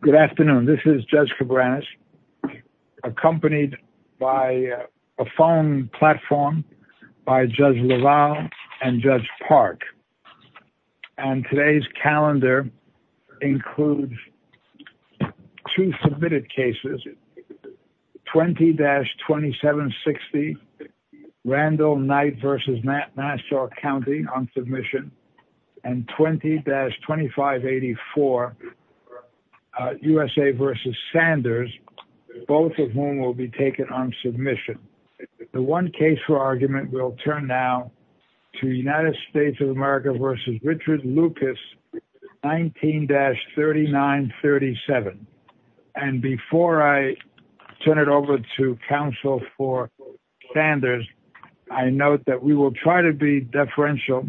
Good afternoon. This is judge Cabrera's accompanied by a phone platform by judge Laval and judge Park. And today's calendar includes two submitted cases, 20 dash 2760 Randall Knight versus Matt Nassau County on submission and 20 dash 2584 USA versus Sanders, both of whom will be taken on submission. The one case for argument will turn now to the United States of America versus Richard Lucas 19 dash 3937. And before I turn it over to counsel for Sanders, I note that we will try to be deferential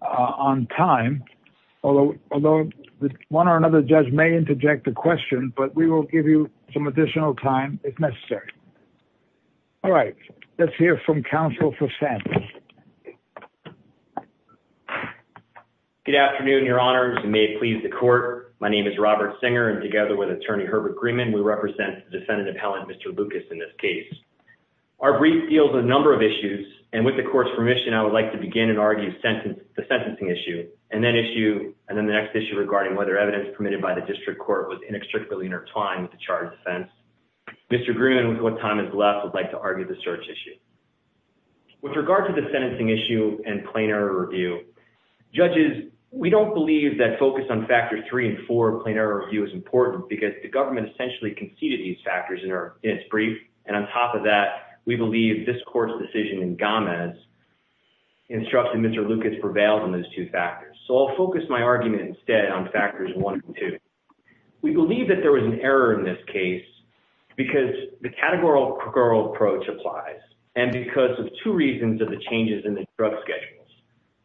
on time, although, although one or another judge may interject the question, but we will give you some additional time if necessary. All right, let's hear from counsel for Santa. You may please the court. My name is Robert singer. And together with attorney Herbert Greenman, we represent the defendant appellant, Mr. Lucas, in this case, our brief deals, a number of issues. And with the court's permission, I would like to begin and argue sentence the sentencing issue and then issue. And then the next issue regarding whether evidence permitted by the district court was inextricably intertwined with the charge defense. Mr. Green, what time is left? I'd like to argue the search issue with regard to the sentencing issue and plain error review judges. We don't believe that focus on factor three and four plain error review is important because the government essentially conceded these factors in her, in its brief. And on top of that, we believe this court's decision in Gomez instructing Mr. Lucas prevailed on those two factors. So I'll focus my argument instead on factors one and two. We believe that there was an error in this case because the categorical approach applies. And because of two reasons of the changes in the drug schedules.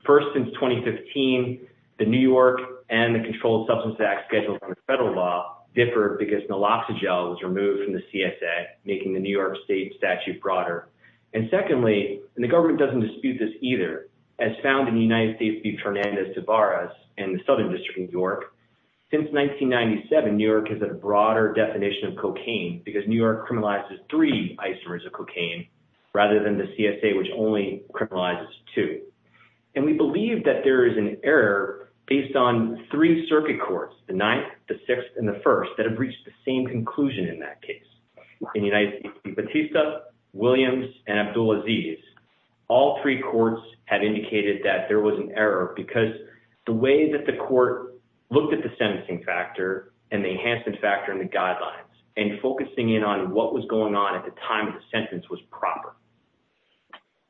First, since 2015, the New York and the controlled substance tax schedules on the federal law differed because naloxone gel was removed from the CSA, making the New York state statute broader. And secondly, and the government doesn't dispute this either as found in the United States to be Fernandez to bars and the Southern district in New York. Since 1997, New York has a broader definition of cocaine because New York criminalizes three isomers of cocaine rather than the CSA, which only criminalizes two. And we believe that there is an error based on three circuit courts, the ninth, the sixth, and the first that have reached the same conclusion in that case in the United States, but he's tough Williams and Abdul Aziz. All three courts have indicated that there was an error because the way that the court looked at the sentencing factor and the enhancement factor in the guidelines and focusing in on what was going on at the time of the sentence was proper.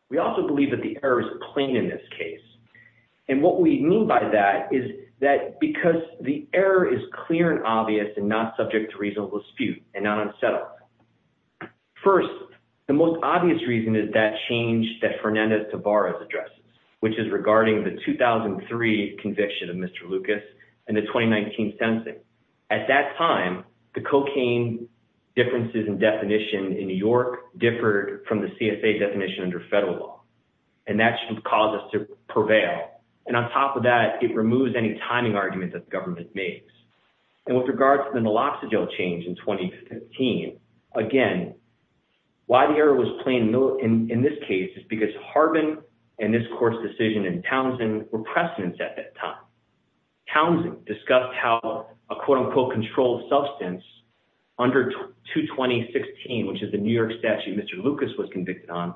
We also believe that the error is plain in this case. And what we mean by that is that because the error is clear and obvious and not subject to reasonable dispute and not unsettled. First, the most obvious reason is that change that Fernandez to bars addresses, which is regarding the 2003 conviction of Mr. Lucas and the 2019 sensing at that time, the cocaine differences in definition in New York differed from the CSA definition under federal law, and that should cause us to prevail. And on top of that, it removes any timing arguments that the government makes and with regards to the naloxone gel change in 2015, again, why the error was plain in this case is because Harbin and this court's decision in Townsend were precedents. At that time, Townsend discussed how a quote unquote controlled substance under two 2016, which is the New York statute. Mr. Lucas was convicted on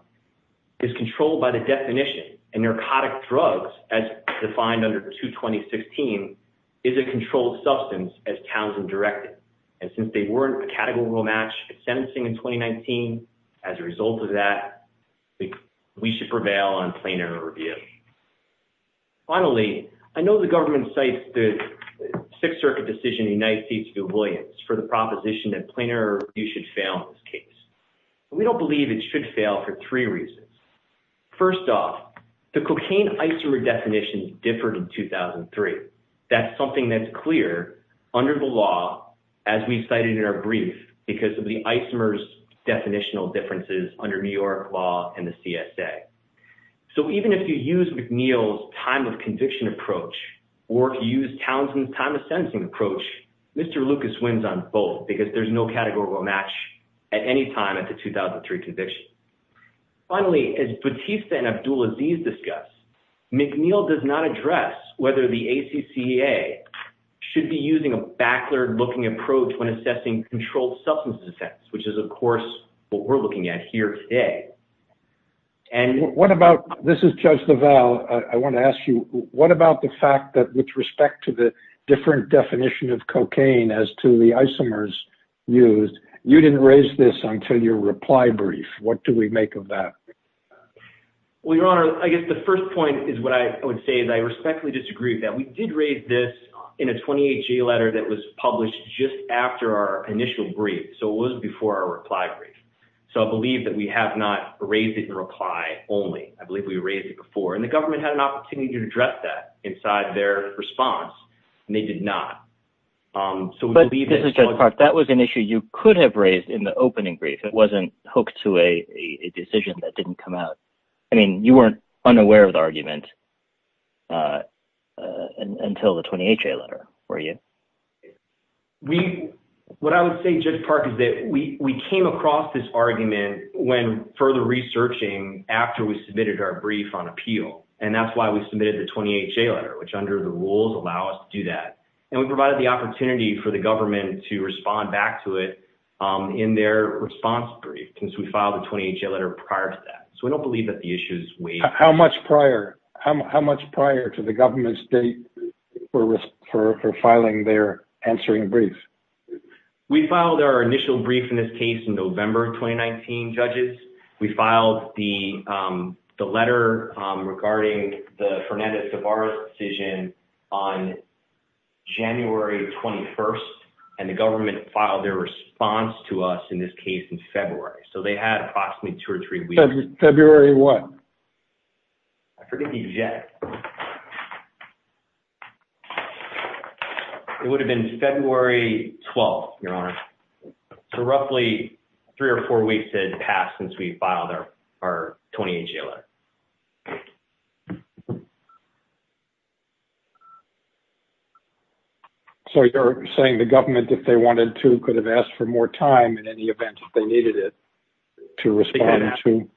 is controlled by the definition and narcotic drugs as defined under two 2016 is a controlled substance as Townsend directed. And since they weren't a category match sentencing in 2019, as a result of that, we should prevail on plain error review. Finally, I know the government sites, the sixth circuit decision in the United States to do avoidance for the proposition that plainer you should fail in this case, but we don't believe it should fail for three reasons. First off the cocaine isomer definitions differed in 2003. That's something that's clear under the law, as we cited in our brief, because of the isomers definitional differences under New York law and the CSA. So even if you use McNeil's time of conviction approach or use Townsend's time of sentencing approach, Mr. Lucas wins on both because there's no categorical match at any time at the 2003 conviction. Finally, as Batista and Abdul Aziz discuss, McNeil does not address whether the ACCA should be using a backlog looking approach when assessing controlled substance offense, which is of course, what we're looking at here today. And what about this is judge the Val. I want to ask you, what about the fact that with respect to the different definition of cocaine as to the isomers used, you didn't raise this until your reply brief. What do we make of that? Well, your honor, I guess the first point is what I would say is I respectfully disagree with that. We did raise this in a 28 G letter that was published just after our initial brief. So it was before our reply brief. So I believe that we have not raised it in reply only. I believe we raised it before and the government had an opportunity to address that inside their response and they did not. Um, so we believe this is just part. That was an issue you could have raised in the opening brief. It wasn't hooked to a decision that didn't come out. I mean, you weren't unaware of the argument, uh, uh, until the 28 J letter where you. We, what I would say just part of it. We, we came across this argument when further researching after we submitted our brief on appeal. And that's why we submitted the 28 J letter, which under the rules allow us to do that. And we provided the opportunity for the government to respond back to it, um, in their response brief, since we filed the 28 J letter prior to that. So we don't believe that the issue is we, how much prior, how much prior to the government state for, for, for filing their answering brief. We filed our initial brief in this case in November, 2019 judges, we regarding the Fernanda's of our decision on January 21st and the government filed their response to us in this case in February. So they had approximately two or three weeks, February one. I forget the jet. It would have been February 12th, your honor. So roughly three or four weeks has passed since we filed our, our 28 J letter. Okay. So you're saying the government, if they wanted to, could have asked for more time in any event that they needed it to respond to,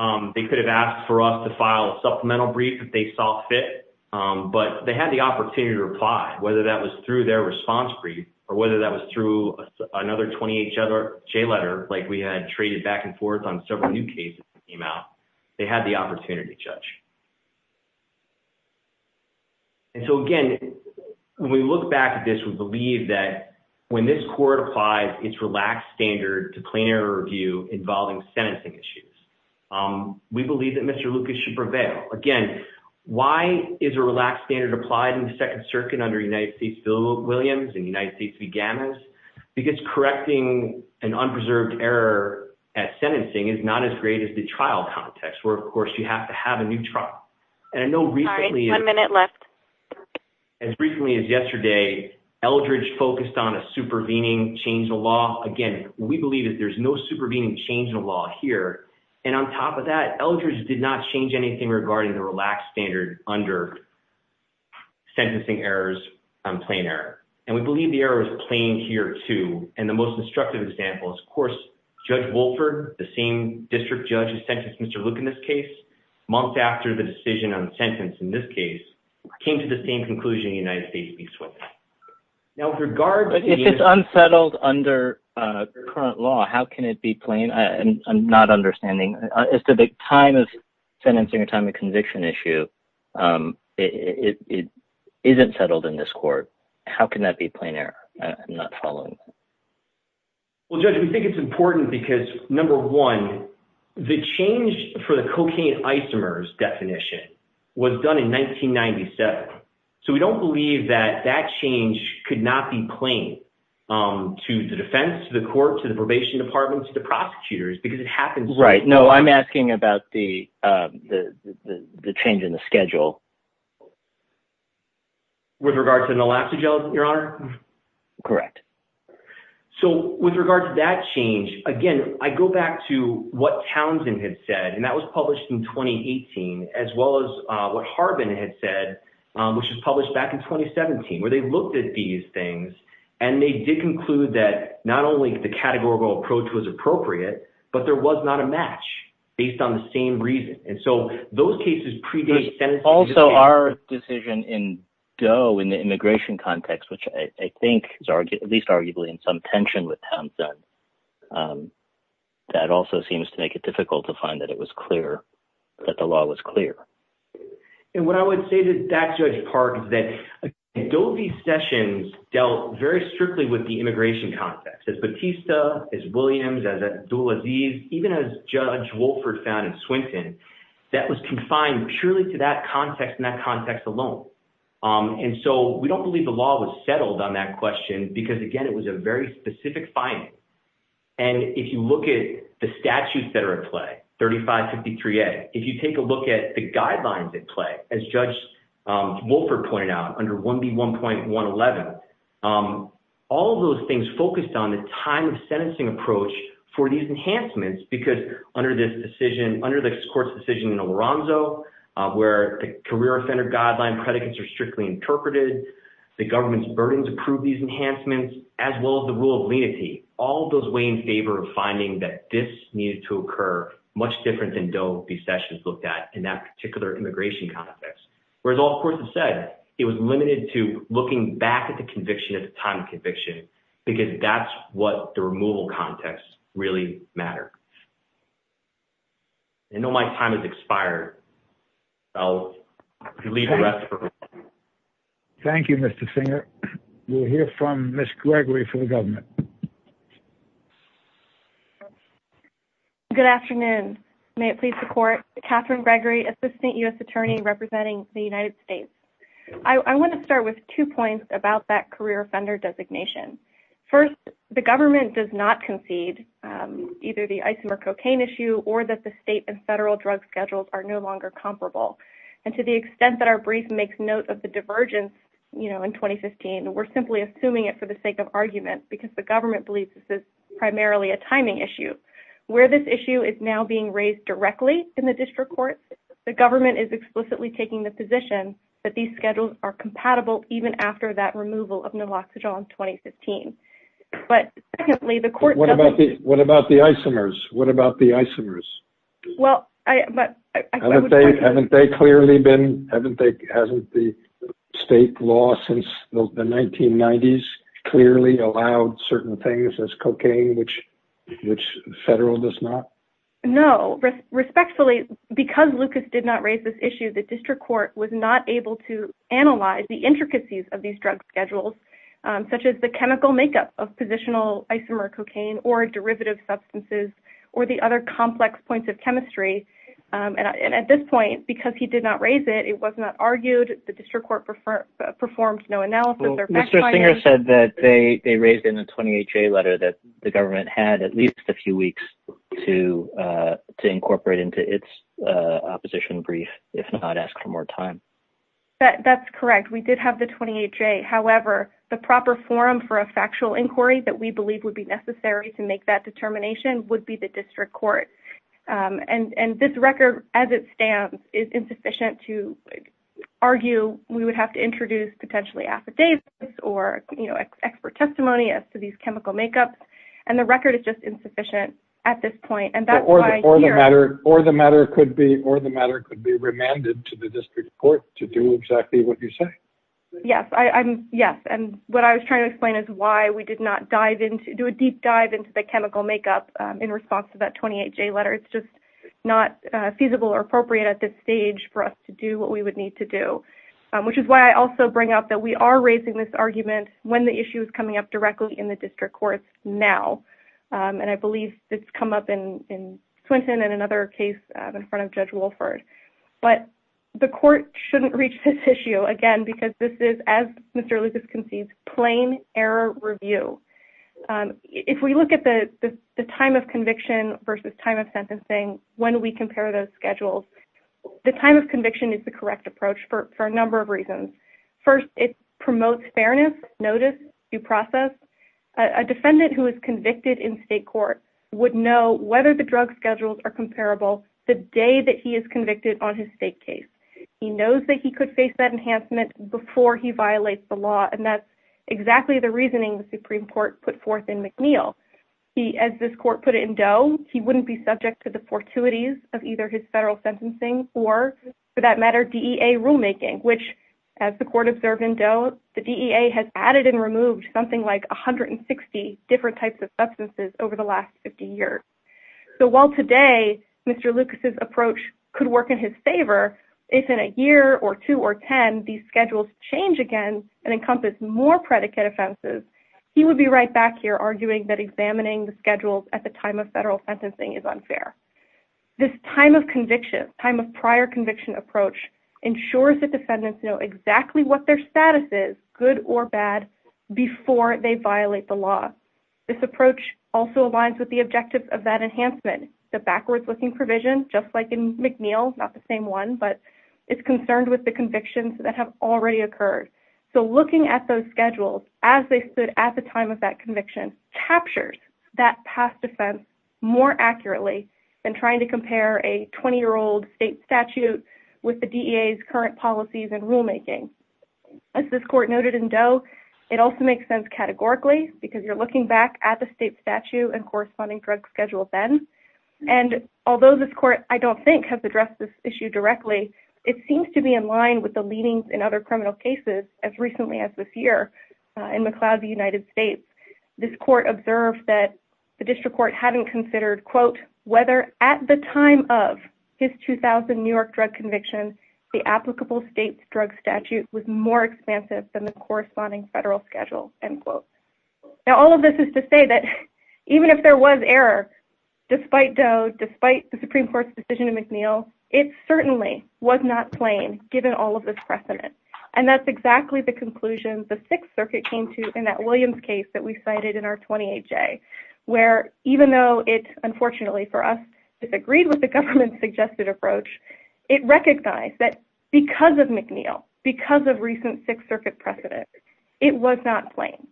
um, they could have asked for us to file a supplemental brief if they saw fit, um, but they had the opportunity to reply, whether that was through their response brief or whether that was through another 28 J letter. Like we had traded back and forth on several new cases came out. They had the opportunity judge. And so again, when we look back at this, we believe that when this court applies, it's relaxed standard to clean air review involving sentencing issues. Um, we believe that Mr. Lucas should prevail again. Why is a relaxed standard applied in the second circuit under United States bill Williams and United States began as because correcting an unpreserved error at sentencing is not as great as the trial context. Where, of course you have to have a new trial. And I know recently, as recently as yesterday, Eldridge focused on a supervening change in law. Again, we believe that there's no supervening change in law here. And on top of that Eldridge did not change anything regarding the relaxed standard under sentencing errors. I'm playing there and we believe the error is playing here too. And the most instructive example is of course, judge Wolford, the same district judge has sentenced Mr. Luke in this case, months after the decision on the sentence in this case came to the same conclusion, United States. Now with regard to unsettled under current law, how can it be plain? I am not understanding. It's the big time of sentencing or time of conviction issue. Um, it, it isn't settled in this court. How can that be playing there? I'm not following. Well, judge, we think it's important because number one, the change for the cocaine isomers definition was done in 1997. So we don't believe that that change could not be playing, um, to the defense, to the court, to the probation department, to the prosecutors, because it happens. Right. No, I'm asking about the, uh, the, the, the change in the schedule. With regard to the Naloxone gels, your honor. Correct. So with regard to that change, again, I go back to what Townsend had said, and that was published in 2018, as well as, uh, what Harbin had said, um, which was published back in 2017, where they looked at these things and they did conclude that not only the categorical approach was appropriate, but there was not a match based on the same reason. And so those cases predate also our decision in go in the immigration context, which I think is argued at least arguably in some tension with Townsend, um, that also seems to make it difficult to find that it was clear that the law was clear. And what I would say to that judge Park is that Dovey sessions dealt very strictly with the immigration context as Batista is Williams as a dual disease, even as judge Wolford found in Swinton, that was confined purely to that context and that context alone. Um, and so we don't believe the law was settled on that question because again, it was a very specific finding. And if you look at the statutes that are at play, 35 53 a, if you take a look at the guidelines at play, as judge, um, Wolford pointed out under one B 1.1 11, um, all of those things focused on the time of sentencing approach for these enhancements. Because under this decision, under the court's decision in Alonzo, uh, where the career center guideline predicates are strictly interpreted, the government's burdens approve these enhancements as well as the rule of lenity, all of those weigh in favor of finding that this needed to occur much different than dopey sessions looked at in that particular immigration context, whereas all of course it said it was limited to looking back at the conviction at the time of conviction, because that's what the removal context really matter. I know my time has expired. I'll leave the rest for her. Thank you, Mr. Singer. We'll hear from miss Gregory for the government. Good afternoon. May it please the court, Catherine Gregory, assistant us attorney representing the United States. I want to start with two points about that career offender designation. First, the government does not concede, um, either the isomer cocaine issue or that the state and federal drug schedules are no longer comparable. And to the extent that our brief makes note of the divergence, you know, in 2015, we're simply assuming it for the sake of argument because the government believes this is primarily a timing issue where this issue is now being raised directly in the district court. The government is explicitly taking the position that these schedules are compatible even after that removal of naloxone on 2015, but secondly, the court. What about the isomers? What about the isomers? Well, I, but I haven't, they clearly been, haven't they, hasn't the state law since the 1990s clearly allowed certain things as cocaine, which. Which federal does not. No risk respectfully because Lucas did not raise this issue. The district court was not able to analyze the intricacies of these drugs schedules, um, such as the chemical makeup of positional isomer cocaine or derivative substances or the other complex points of chemistry. Um, and I, and at this point, because he did not raise it, it was not argued. The district court preferred performed no analysis or Mr. Singer said that they raised in a 28 J letter that the government had at least a few weeks to, uh, to incorporate into its, uh, opposition brief, if not ask for more time. That that's correct. We did have the 28 J however, the proper forum for a factual inquiry that we believe would be necessary to make that determination would be the district court. Um, and, and this record as it stands is insufficient to argue. We would have to introduce potentially affidavits or expert testimony as to these chemical makeups. And the record is just insufficient at this point. And that's why or the matter could be, or the matter could be remanded to the district court to do exactly what you say. Yes. I I'm yes. And what I was trying to explain is why we did not dive into do a deep dive into the chemical makeup, um, in response to that 28 J letter, it's just not a feasible or appropriate at this stage for us to do what we would need to do, um, which is why I also bring up that we are raising this argument when the issue is coming up directly in the district courts now. Um, and I believe it's come up in, in Clinton and another case in front of judge Wilford. But the court shouldn't reach this issue again, because this is, as Mr. Lucas concedes plain error review. Um, if we look at the, the, the time of conviction versus time of sentencing, when we compare those schedules, the time of conviction is the correct approach for, for a number of reasons. First, it promotes fairness notice due process, a defendant who is convicted in state court would know whether the drug schedules are comparable. The day that he is convicted on his state case, he knows that he could face that enhancement before he violates the law. And that's exactly the reasoning the Supreme court put forth in McNeil. He, as this court put it in dough, he wouldn't be subject to the fortuities of either his federal sentencing or for that matter, DEA rulemaking, which as the court observed in dough, the DEA has added and removed something like 160 different types of substances over the last 50 years. So while today, Mr. Lucas's approach could work in his favor, if in a year or two or 10, these schedules change again and encompass more predicate offenses, he would be right back here arguing that examining the schedules at the time of federal sentencing is unfair. This time of conviction, time of prior conviction approach ensures that defendants know exactly what their status is good or bad before they violate the law. This approach also aligns with the objectives of that enhancement, the backwards looking provision, just like in McNeil, not the same one, but it's concerned with the convictions that have already occurred. So looking at those schedules as they stood at the time of that conviction captures that past defense more accurately than trying to compare a 20 year old state statute with the DEA's current policies and rulemaking. As this court noted in dough, it also makes sense categorically because you're looking back at the state statute and corresponding drug schedules. Then, and although this court, I don't think has addressed this issue directly, it seems to be in line with the leanings in other criminal cases. As recently as this year in McLeod, the United States, this court observed that the district court hadn't considered quote, whether at the time of his 2000 New York drug conviction, the applicable state's drug statute was more expansive than the corresponding federal schedule. And quote, now all of this is to say that even if there was error, despite dough, despite the Supreme court's decision to McNeil, it certainly was not plain given all of this precedent. And that's exactly the conclusion. The sixth circuit came to in that Williams case that we cited in our 28 J where, even though it's unfortunately for us, it's agreed with the government's suggested approach. It recognized that because of McNeil, because of recent six circuit precedent, it was not plain.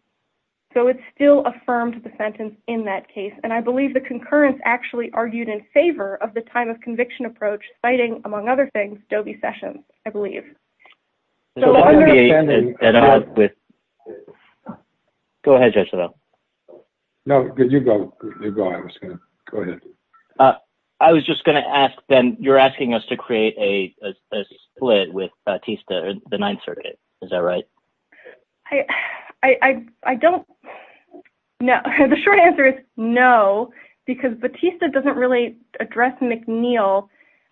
So it's still affirmed the sentence in that case. And I believe the concurrence actually argued in favor of the time of conviction approach citing among other things, Dobie sessions, I believe. Go ahead. No, good. You go, you go. I was going to go ahead. Uh, I was just going to ask Ben, you're asking us to create a split with Batista or the ninth circuit. Is that right? I, I, I don't know the short answer is no, because Batista doesn't really address McNeil.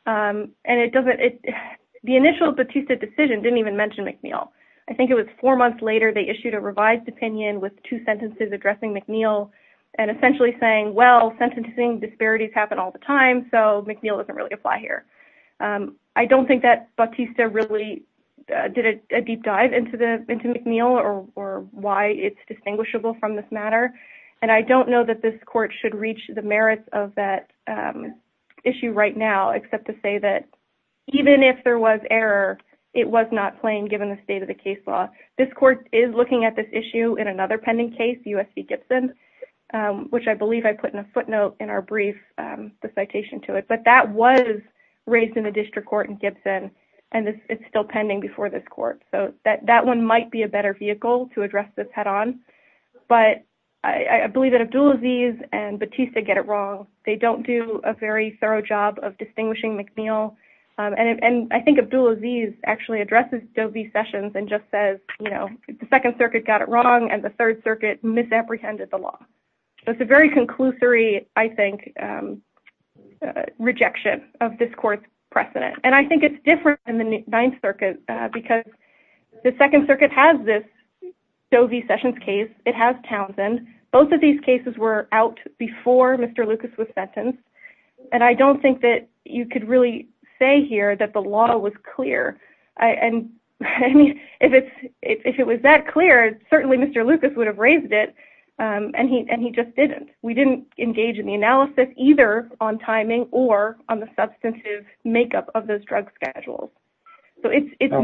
Um, and it doesn't, it, the initial Batista decision didn't even mention McNeil. I think it was four months later. They issued a revised opinion with two sentences addressing McNeil and essentially saying, well, sentencing disparities happen all the time. So McNeil doesn't really apply here. Um, I don't think that Batista really did a deep dive into the, into McNeil or, or why it's distinguishable from this matter. And I don't know that this court should reach the merits of that, um, issue right now, except to say that even if there was error, it was not plain. Given the state of the case law, this court is looking at this issue in another pending case, USC Gibson. Um, which I believe I put in a footnote in our brief, um, the citation to it, but that was raised in the district court in Gibson and it's still pending before this court. So that, that one might be a better vehicle to address this head on. But I believe that Abdul Aziz and Batista get it wrong. They don't do a very thorough job of distinguishing McNeil. Um, and, and I think Abdul Aziz actually addresses Doe v. Sessions and just says, you know, the second circuit got it wrong. And the third circuit misapprehended the law. It's a very conclusory, I think, um, uh, rejection of this court precedent. And I think it's different in the ninth circuit, uh, because the second circuit has this Doe v. Sessions case, it has Townsend. Both of these cases were out before Mr. Lucas was sentenced. And I don't think that you could really say here that the law was clear. I, and I mean, if it's, if it was that clear, certainly Mr. Lucas would have raised it. Um, and he, and he just didn't, we didn't engage in the analysis either on timing or on the substantive makeup of those drugs schedules. So it's, it's,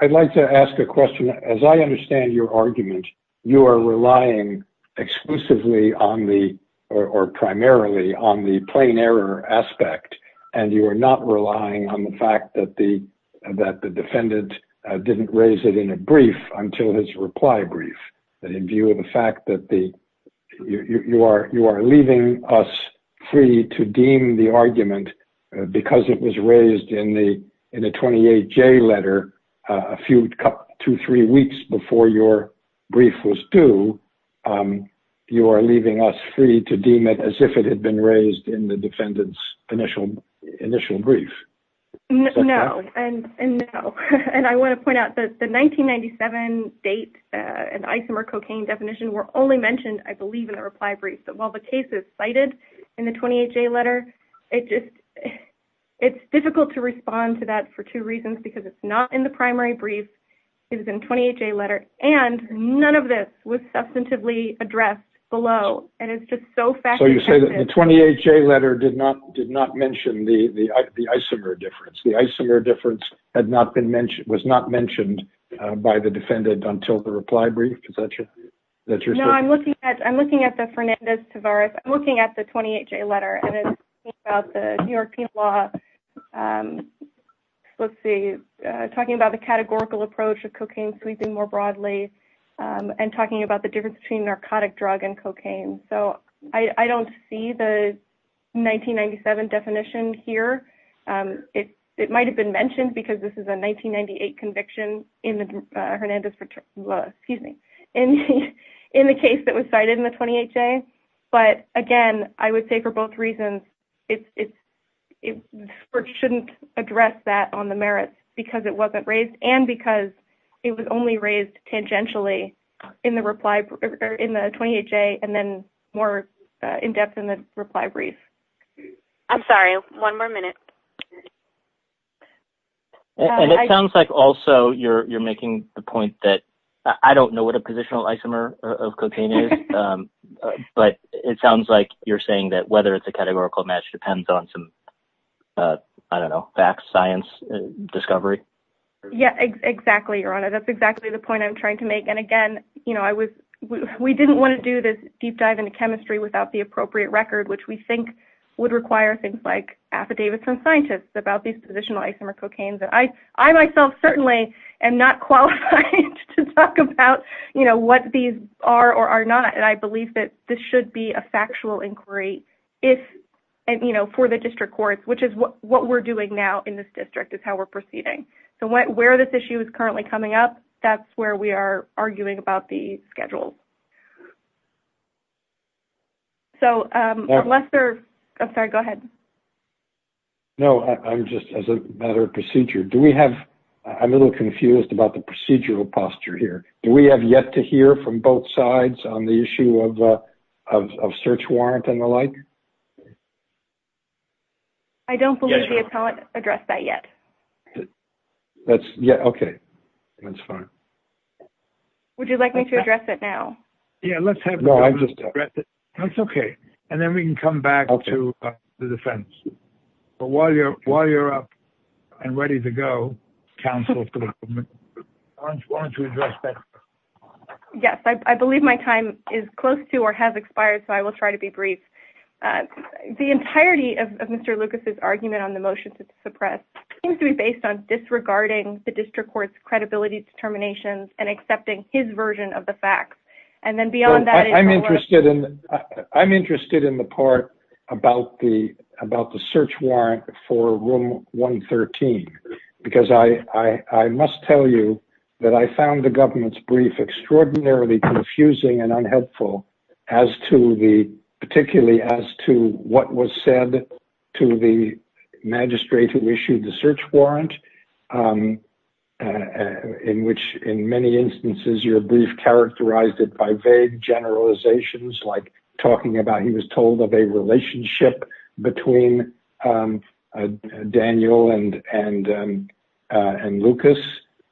I'd like to ask a question as I understand your argument, you are relying exclusively on the, or primarily on the plain error aspect, and you are not relying on the fact that the, that the defendant didn't raise it in a way that you are, you are leaving us free to deem the argument, uh, because it was raised in the, in a 28 J letter, uh, a few two, three weeks before your brief was due, um, you are leaving us free to deem it as if it had been raised in the defendant's initial, initial brief. No, no. And, and no, and I want to point out that the 1997 date, uh, and only mentioned, I believe in the reply brief, that while the case is cited in the 28 J letter, it just, it's difficult to respond to that for two reasons, because it's not in the primary brief, it was in 28 J letter, and none of this was substantively addressed below. And it's just so fast. So you say that the 28 J letter did not, did not mention the, the, the isomer difference, the isomer difference had not been mentioned, was not mentioned, uh, by the defendant until the reply brief, is that true? No, I'm looking at, I'm looking at the Fernandez-Tavares, I'm looking at the 28 J letter and it's about the New York penal law, um, let's see, uh, talking about the categorical approach of cocaine sweeping more broadly, um, and talking about the difference between narcotic drug and cocaine. So I, I don't see the 1997 definition here. Um, it, it might've been mentioned because this is a 1998 conviction in the, uh, Hernandez, excuse me, in, in the case that was cited in the 28 J. But again, I would say for both reasons, it's, it's, it shouldn't address that on the merits because it wasn't raised and because it was only raised tangentially in the reply or in the 28 J and then more in depth in the reply brief. I'm sorry, one more minute. And it sounds like also you're, you're making the point that I don't know what a positional isomer of cocaine is, um, but it sounds like you're saying that whether it's a categorical match depends on some, uh, I don't know, facts, science, discovery. Yeah, exactly. Your Honor, that's exactly the point I'm trying to make. And again, you know, I was, we didn't want to do this deep dive into chemistry without the appropriate record, which we think would require things like affidavits from scientists about these positional isomer cocaines. And I, I myself certainly am not qualified to talk about, you know, what these are or are not. And I believe that this should be a factual inquiry if, and you know, for the district courts, which is what we're doing now in this district is how we're proceeding. So where, where this issue is currently coming up, that's where we are arguing about the schedule. So, um, unless there, I'm sorry, go ahead. No, I'm just, as a matter of procedure, do we have, I'm a little confused about the procedural posture here. Do we have yet to hear from both sides on the issue of, uh, of, of search warrant and the like? I don't believe the appellant addressed that yet. That's yeah. Okay. That's fine. Would you like me to address it now? Yeah, let's have, that's okay. And then we can come back to the defense. But while you're, while you're up and ready to go counsel, I just wanted to address that. Yes. I believe my time is close to, or has expired. So I will try to be brief. Uh, the entirety of Mr. Lucas's argument on the motion to suppress seems to be based on disregarding the district court's credibility determinations and accepting his version of the facts. And then beyond that, I'm interested in, I'm interested in the part about the, about the search warrant for room one 13, because I, I, I must tell you that I found the government's brief extraordinarily confusing and unhelpful as to the, particularly as to what was said to the magistrate who issued the search warrant. Um, uh, in which in many instances, your brief characterized it by vague generalizations. Talking about, he was told that they relationship between, um, uh, Daniel and, and, um, uh, and Lucas,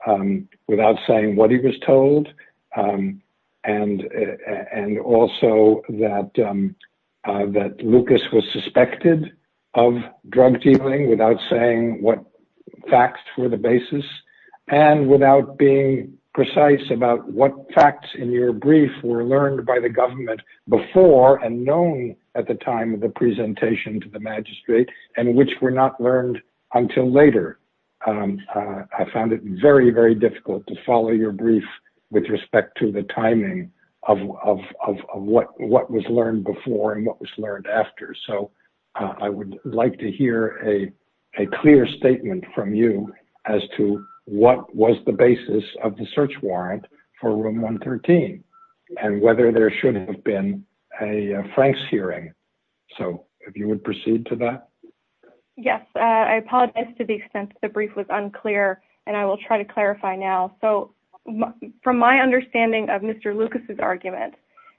um, without saying what he was told. Um, and, uh, and also that, um, uh, that Lucas was suspected of drug dealing without saying what facts were the basis and without being precise about what facts in your brief were learned by the government before and known at the time of the presentation to the magistrate and which were not learned until later. Um, uh, I found it very, very difficult to follow your brief with respect to the timing of, of, of, of what, what was learned before and what was learned after. So, uh, I would like to hear a clear statement from you as to what was the search warrant for room 113 and whether there should have been a Frank's hearing. So if you would proceed to that. Yes. Uh, I apologize to the extent that the brief was unclear and I will try to clarify now. So from my understanding of Mr. Lucas's argument,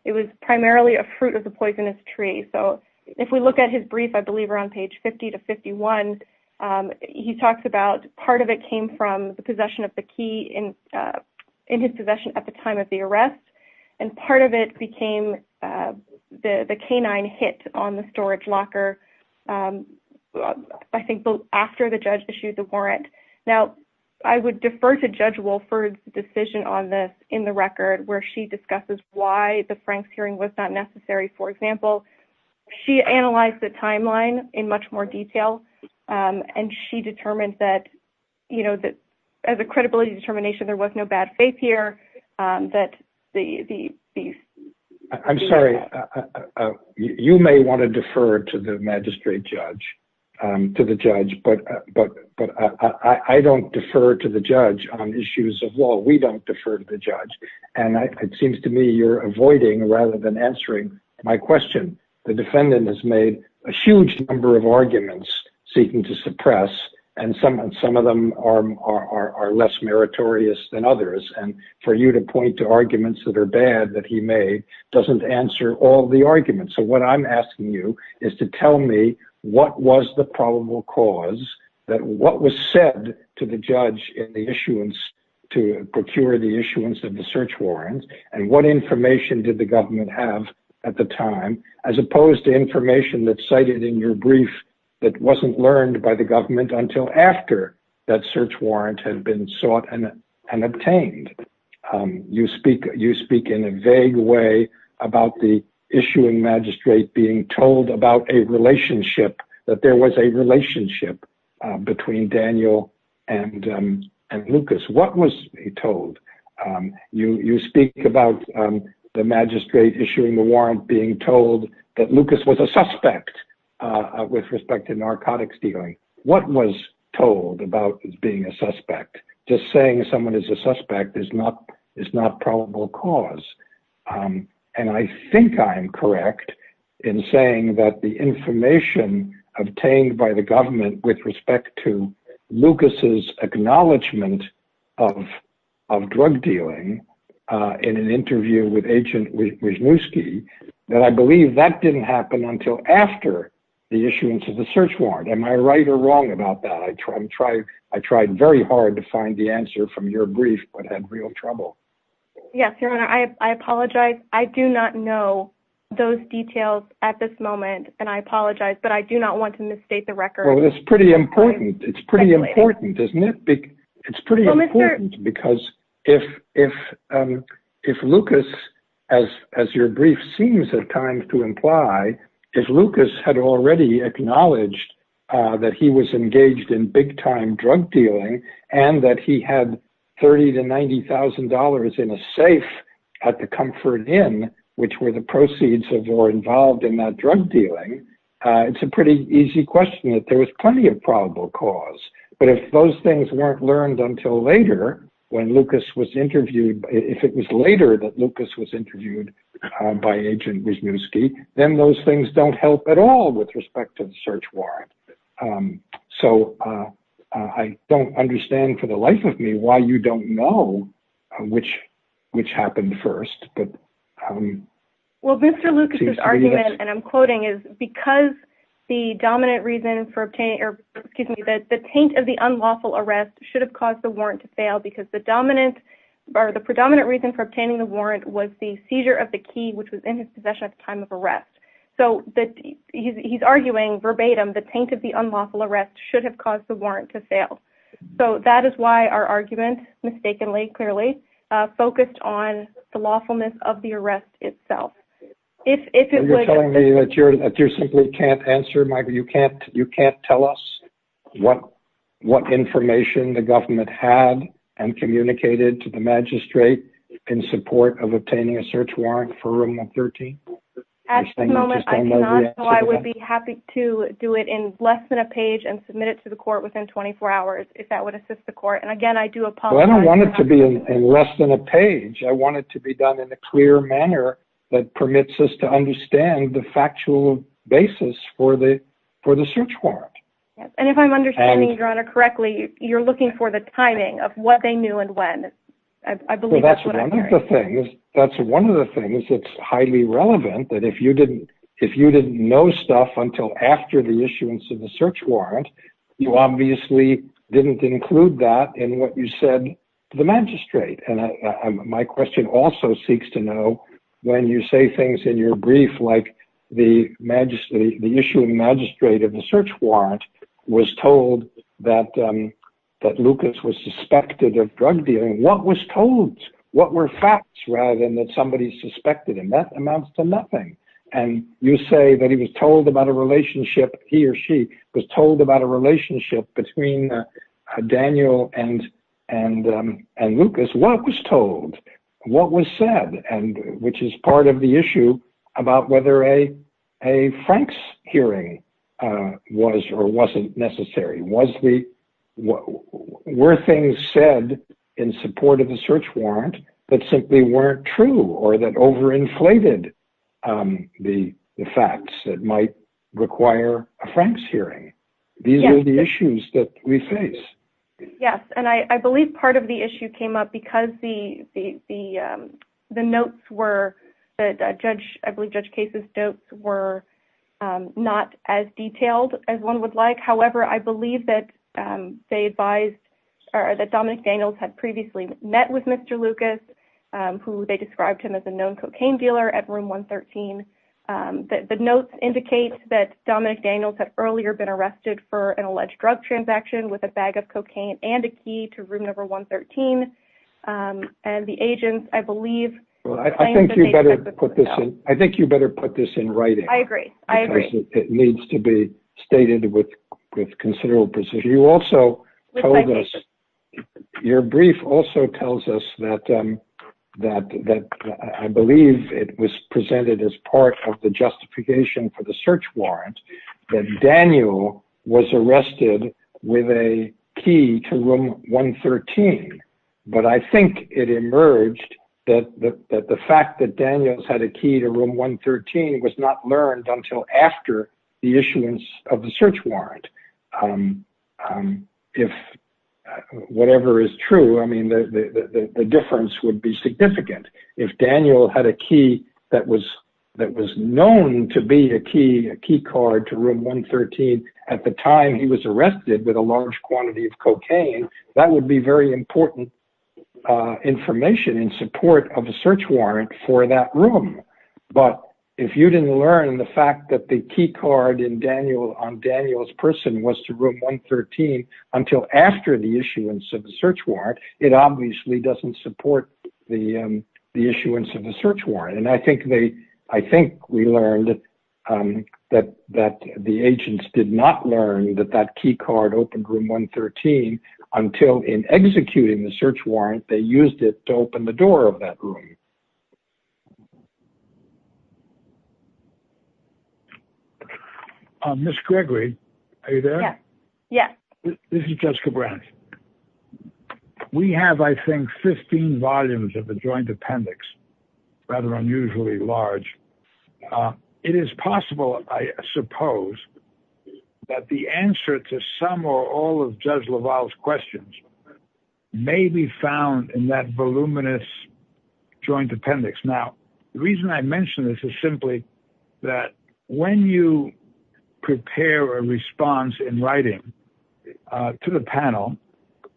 it was primarily a fruit of the poisonous tree. So if we look at his brief, I believe we're on page 50 to 51. Um, he talks about part of it came from the possession of the key in, uh, in his possession at the time of the arrest. And part of it became, uh, the, the canine hit on the storage locker. Um, I think after the judge issued the warrant. Now I would defer to judge Wolford's decision on this in the record where she discusses why the Frank's hearing was not necessary. For example, she analyzed the timeline in much more detail. Um, and she determined that, you know, that as a credibility determination, there was no bad faith here, um, that the, the, I'm sorry, uh, uh, you may want to defer to the magistrate judge, um, to the judge, but, uh, but, but I don't defer to the judge on issues of law. We don't defer to the judge. And I, it seems to me you're avoiding rather than answering my question. The defendant has made a huge number of arguments seeking to suppress and some, and some of them are, are, are less meritorious than others. And for you to point to arguments that are bad, that he made doesn't answer all the arguments. So what I'm asking you is to tell me what was the probable cause that what was said to the judge in the issuance to procure the issuance of the search and what information did the government have at the time, as opposed to information that cited in your brief, that wasn't learned by the government until after that search warrant had been sought and, and obtained, um, you speak, you speak in a vague way about the issuing magistrate being told about a relationship that there was a relationship between Daniel and, um, and Lucas. What was he told? Um, you, you speak about, um, the magistrate issuing the warrant being told that Lucas was a suspect, uh, with respect to narcotics dealing. What was told about being a suspect? Just saying someone is a suspect is not, is not probable cause. Um, and I think I'm correct in saying that the information obtained by the drug dealing, uh, in an interview with agent that I believe that didn't happen until after the issuance of the search warrant, am I right or wrong about that? I try and try. I tried very hard to find the answer from your brief, but had real trouble. Yes, your honor. I, I apologize. I do not know those details at this moment, and I apologize, but I do not want to misstate the record. Well, that's pretty important. It's pretty important, isn't it? It's pretty important because if, if, um, if Lucas, as, as your brief seems at times to imply, if Lucas had already acknowledged, uh, that he was engaged in big time drug dealing and that he had 30 to $90,000 in a safe at the comfort in, which were the proceeds of or involved in that drug dealing, uh, it's a pretty easy question that there was plenty of probable cause, but if those things weren't learned until later, when Lucas was interviewed, if it was later that Lucas was interviewed by agent, then those things don't help at all with respect to the search warrant. Um, so, uh, uh, I don't understand for the life of me why you don't know which, which happened first. But, um, well, Mr. Lucas's argument, and I'm quoting is because the dominant reason for obtaining or excuse me, that the taint of the unlawful arrest should have caused the warrant to fail because the dominant or the predominant reason for obtaining the warrant was the seizure of the key, which was in his possession at the time of arrest. So that he's, he's arguing verbatim, the taint of the unlawful arrest should have caused the warrant to fail. So that is why our argument mistakenly clearly, uh, focused on the lawfulness of the arrest itself. If, if you're telling me that you're, that you're simply can't answer, Michael, you can't, you can't tell us what, what information the government had and communicated to the magistrate in support of obtaining a search warrant for a month, 13. At the moment, I would be happy to do it in less than a page and submit it to the court within 24 hours, if that would assist the court. And again, I do apologize. I don't want it to be in less than a page. I want it to be done in a clear manner that permits us to understand the for the search warrant. And if I'm understanding your honor correctly, you're looking for the timing of what they knew and when. I believe that's one of the things that's one of the things that's highly relevant that if you didn't, if you didn't know stuff until after the issuance of the search warrant, you obviously didn't include that in what you said to the magistrate. And my question also seeks to know when you say things in your brief, like the majesty, the issue of the magistrate of the search warrant was told that, um, that Lucas was suspected of drug dealing. What was told, what were facts rather than that somebody suspected him that amounts to nothing. And you say that he was told about a relationship. He or she was told about a relationship between Daniel and, and, um, and Lucas, what was told, what was said, and which is part of the issue about whether a. A Frank's hearing, uh, was or wasn't necessary. Was the, were things said in support of the search warrant that simply weren't true or that overinflated, um, the facts that might require a Frank's hearing. These are the issues that we face. Yes. And I believe part of the issue came up because the, the, the, um, the notes were the judge, I believe judge cases notes were, um, not as detailed as one would like, however, I believe that, um, they advised or that Dominic Daniels had previously met with Mr. Lucas, um, who they described him as a known cocaine dealer at room one 13. Um, the notes indicate that Dominic Daniels had earlier been arrested for an alleged drug transaction with a bag of cocaine and a key to room number one 13, um, and the agents, I believe. Well, I think you better put this in. I think you better put this in writing. I agree. I agree. It needs to be stated with, with considerable precision. You also told us your brief also tells us that, um, that, that I believe it was presented as part of the justification for the search warrant that Daniel was that the fact that Daniels had a key to room one 13 was not learned until after the issuance of the search warrant. Um, um, if, uh, whatever is true, I mean, the, the, the, the difference would be significant if Daniel had a key that was, that was known to be a key, a key card to room one 13. At the time he was arrested with a large quantity of cocaine, that would be very important, uh, information in support of a search warrant for that room, but if you didn't learn the fact that the key card in Daniel on Daniel's person was to room one 13 until after the issuance of the search warrant, it obviously doesn't support the, um, the issuance of the search warrant. And I think they, I think we learned that, um, that, that the agents did not learn that that key card opened room one 13 until in executing the search warrant, they used it to open the door of that room. Um, miss Gregory. Are you there? Yeah, this is Jessica Brown. We have, I think, 15 volumes of the joint appendix rather unusually large. Uh, it is possible, I suppose that the answer to some or all of judge Laval's questions may be found in that voluminous joint appendix. Now, the reason I mentioned this is simply that when you prepare a response in writing, uh, to the panel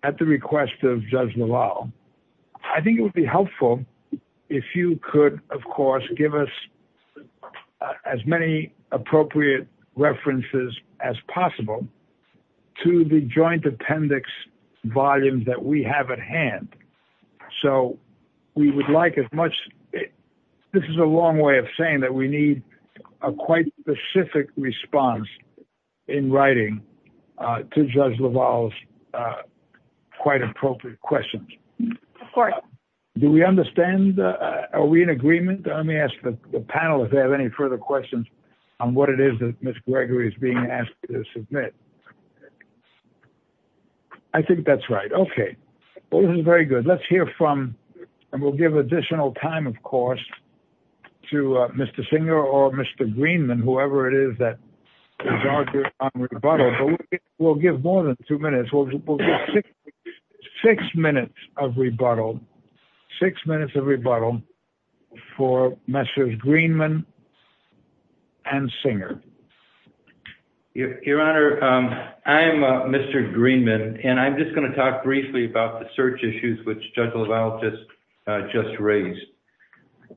at the request of judge Laval, I think it of course, give us as many appropriate references as possible to the joint appendix volumes that we have at hand. So we would like as much, this is a long way of saying that we need a quite specific response in writing, uh, to judge Laval's, uh, quite appropriate questions. Of course. Do we understand? Uh, are we in agreement? Let me ask the panel, if they have any further questions on what it is that miss Gregory is being asked to submit. I think that's right. Okay. Well, this is very good. Let's hear from, and we'll give additional time of course, to Mr. Singer or Mr. Greenman, whoever it is that we'll give more than two minutes. Six minutes of rebuttal, six minutes of rebuttal for Mr. Greenman and singer. Yeah, your honor. Um, I am, uh, Mr. Greenman, and I'm just going to talk briefly about the search issues, which judge Laval just, uh, just raised.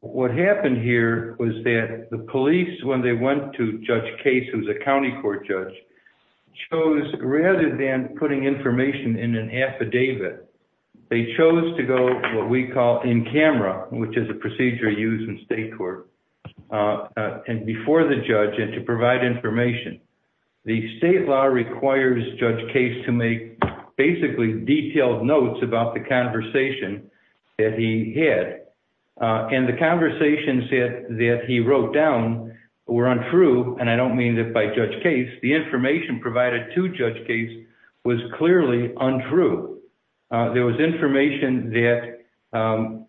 What happened here was that the police, when they went to judge case, it was a County court judge chose rather than putting information in an affidavit. They chose to go what we call in camera, which is a procedure used in state court, uh, uh, and before the judge and to provide information, the state law requires judge case to make basically detailed notes about the conversation. That he had, uh, and the conversations that he wrote down were untrue. And I don't mean that by judge case, the information provided to judge case was clearly untrue. Uh, there was information that, um,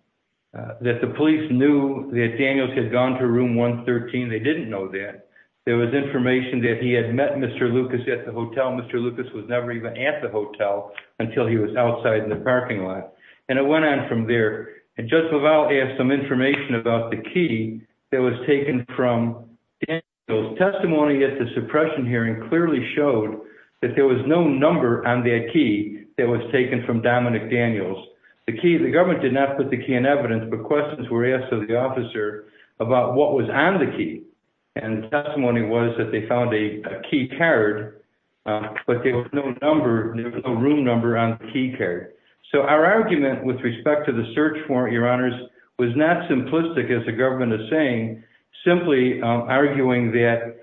uh, that the police knew that Daniels had gone to room one 13. They didn't know that there was information that he had met Mr. Lucas at the hotel. Mr. Lucas was never even at the hotel until he was outside in the parking lot. And it went on from there. And just about, they have some information about the key that was testimony at the suppression hearing clearly showed that there was no number on their key that was taken from Dominic Daniels, the key, the government did not put the key in evidence, but questions were asked to the officer about what was on the key. And testimony was that they found a key carried, but there was no number room number on key care. So our argument with respect to the search for your honors was not simplistic as the government is saying, simply arguing that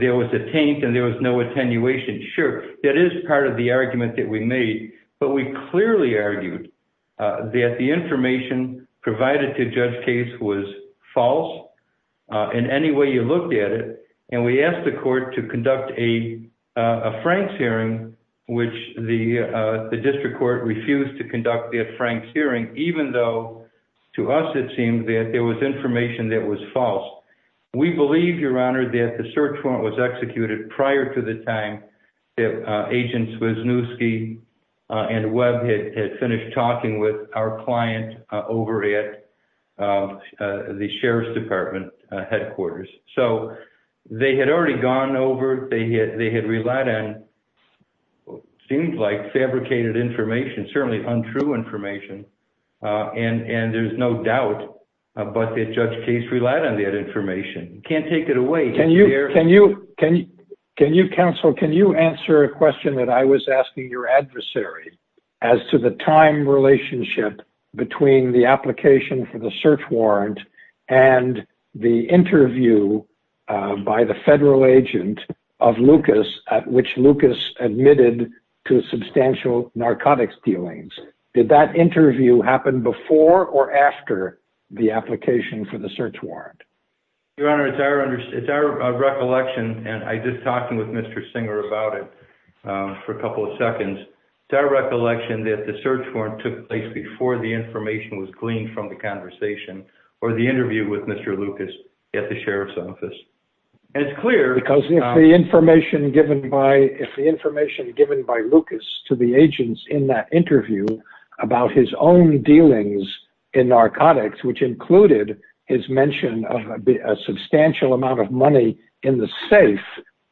there was a taint and there was no attenuation. Sure. That is part of the argument that we made, but we clearly argued that the information provided to judge case was false in any way you looked at it. And we asked the court to conduct a, a Frank's hearing, which the, uh, the district court refused to conduct the Frank's hearing, even though to us, it seemed that there was information that was false, we believe your honor that the search warrant was executed prior to the time that, uh, agents was new ski. Uh, and Webb had finished talking with our client, uh, over at, uh, uh, the sheriff's department, uh, headquarters. So they had already gone over. They had, they had relied on. Seems like fabricated information, certainly untrue information. Uh, and, and there's no doubt, uh, but the judge case relied on that information. Can't take it away. Can you, can you, can you, can you counsel, can you answer a question that I was asking your adversary as to the time relationship between the application for the search warrant and the interview, uh, by the federal agent of Lucas at which Lucas admitted to substantial narcotics dealings. Did that interview happen before or after the application for the search warrant? Your honor, it's our under, it's our recollection. And I just talked to him with Mr. Singer about it, um, for a couple of seconds, direct election that the search warrant took place before the information was gleaned from the conversation or the interview with Mr. Lucas at the sheriff's office. And it's clear because the information given by, if the information given by to the agents in that interview about his own dealings in narcotics, which included his mention of a substantial amount of money in the safe,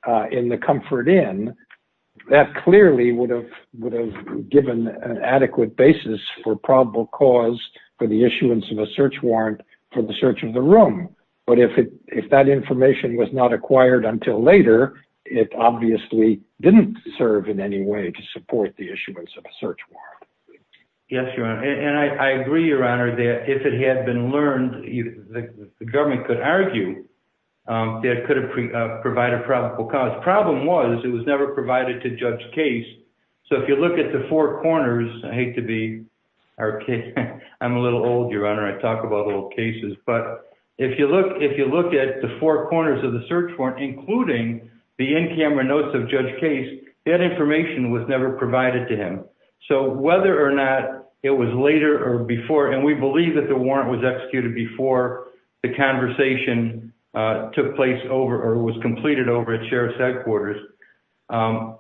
uh, in the comfort in that clearly would have, would have given an adequate basis for probable cause for the issuance of a search warrant for the search of the room. But if it, if that information was not acquired until later, it obviously didn't serve in any way to support the issuance of a search warrant. Yes, your honor. And I agree, your honor, that if it had been learned, the government could argue. Um, that could have provided probable cause problem was it was never provided to judge case. So if you look at the four corners, I hate to be our case. I'm a little old, your honor. I talk about little cases, but if you look, if you look at the four corners of the search warrant, including the in-camera notes of judge case, that information was never provided to him. So whether or not it was later or before, and we believe that the warrant was executed before the conversation took place over or was completed over at sheriff's headquarters. Um,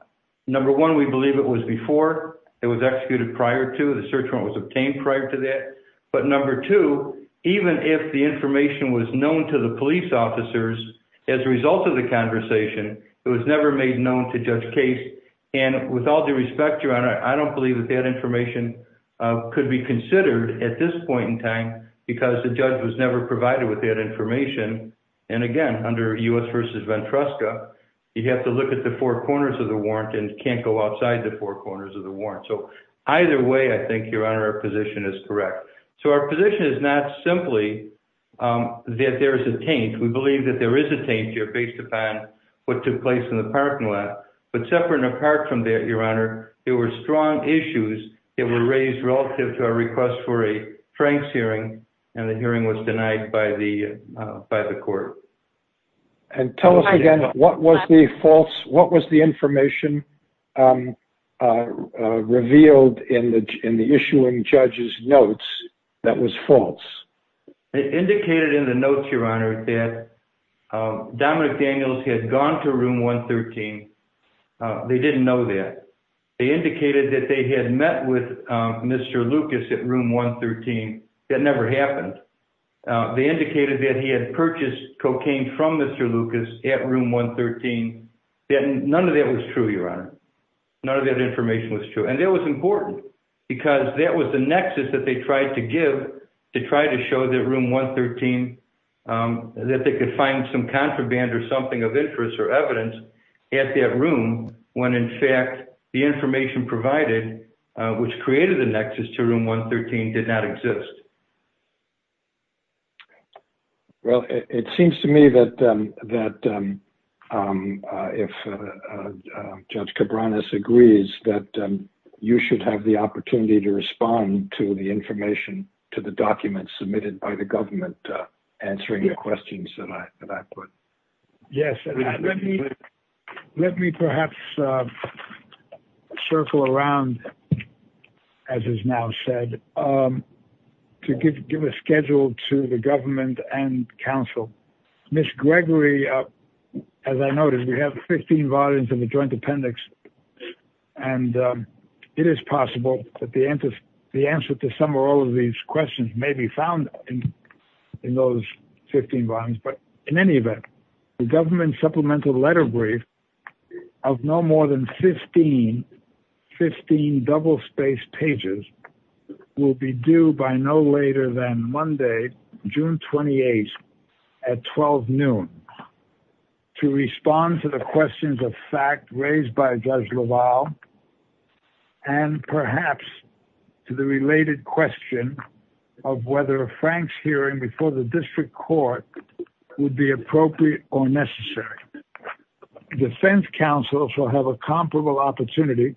number one, we believe it was before it was executed prior to the search warrant was obtained prior to that. But number two, even if the information was known to the police officers, as a result of the conversation, it was never made known to judge case. And with all due respect, your honor, I don't believe that that information, uh, could be considered at this point in time because the judge was never provided with that information. And again, under us versus Ventresca, you'd have to look at the four corners of the warrant and can't go outside the four corners of the warrant. So either way, I think your honor, our position is correct. So our position is not simply, um, that there's a change. We believe that there is a change here based upon what took place in the parking lot, but separate and apart from that, your honor, there were strong issues that were raised relative to our request for a Frank's hearing. And the hearing was denied by the, uh, by the court. And tell us again, what was the false? What was the information, um, uh, revealed in the, in the issuing judge's notes that was false. It indicated in the notes, your honor, that, um, Dominic Daniels had gone to room 113. Uh, they didn't know that they indicated that they had met with, um, Mr. Lucas at room 113. That never happened. Uh, they indicated that he had purchased cocaine from Mr. Lucas at room 113, that none of that was true. Your honor, none of that information was true. And that was important because that was the nexus that they tried to to try to show that room 113, um, that they could find some contraband or something of interest or evidence at that room when in fact the information provided, uh, which created the nexus to room 113 did not exist. Well, it seems to me that, um, that, um, uh, if, uh, uh, uh, judge Cabranes agrees that you should have the opportunity to respond to the information to the document submitted by the government, uh, answering the questions that I, that I put. Yes. Let me perhaps, uh, circle around as is now said, um, to give, give a schedule to the government and council. Ms. Gregory, uh, as I noticed, we have 15 volumes of the joint appendix and, um, it is possible that the answer, the answer to some, or all of these questions may be found in those 15 volumes, but in any event, the government supplemental letter brief of no more than 15, 15 double-spaced pages will be due by no later than Monday, June 28th at 12 noon to respond to the and perhaps to the related question of whether a Frank's hearing before the district court would be appropriate or necessary defense council shall have a comparable opportunity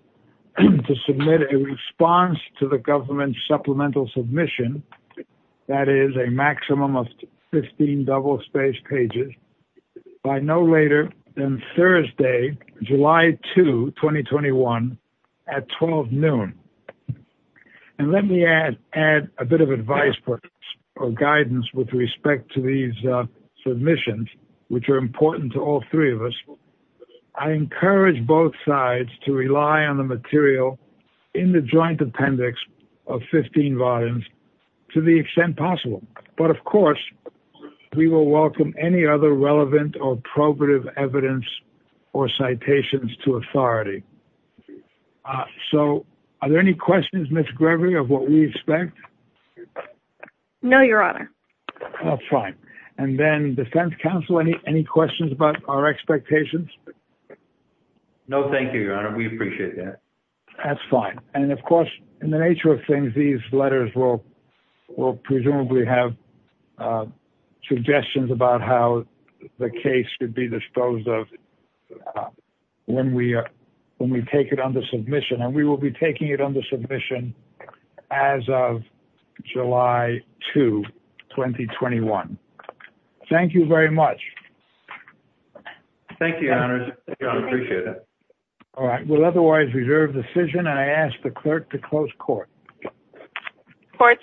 to submit a response to the government supplemental submission that is a maximum of 15 double-spaced pages by no later than 12 noon, and let me add, add a bit of advice or guidance with respect to these submissions, which are important to all three of us, I encourage both sides to rely on the material in the joint appendix of 15 volumes to the extent possible, but of course we will welcome any other relevant or probative evidence or citations to authority. Uh, so are there any questions, Ms. Gregory of what we expect? No, your honor. That's fine. And then defense council, any, any questions about our expectations? No, thank you, your honor. We appreciate that. That's fine. And of course, in the nature of things, these letters will, will presumably have, uh, suggestions about how the case could be disposed of when we are, when we take it under submission and we will be taking it under submission as of July 2, 2021. Thank you very much. Thank you, your honor. All right. Well, otherwise reserve decision. And I asked the clerk to close court court.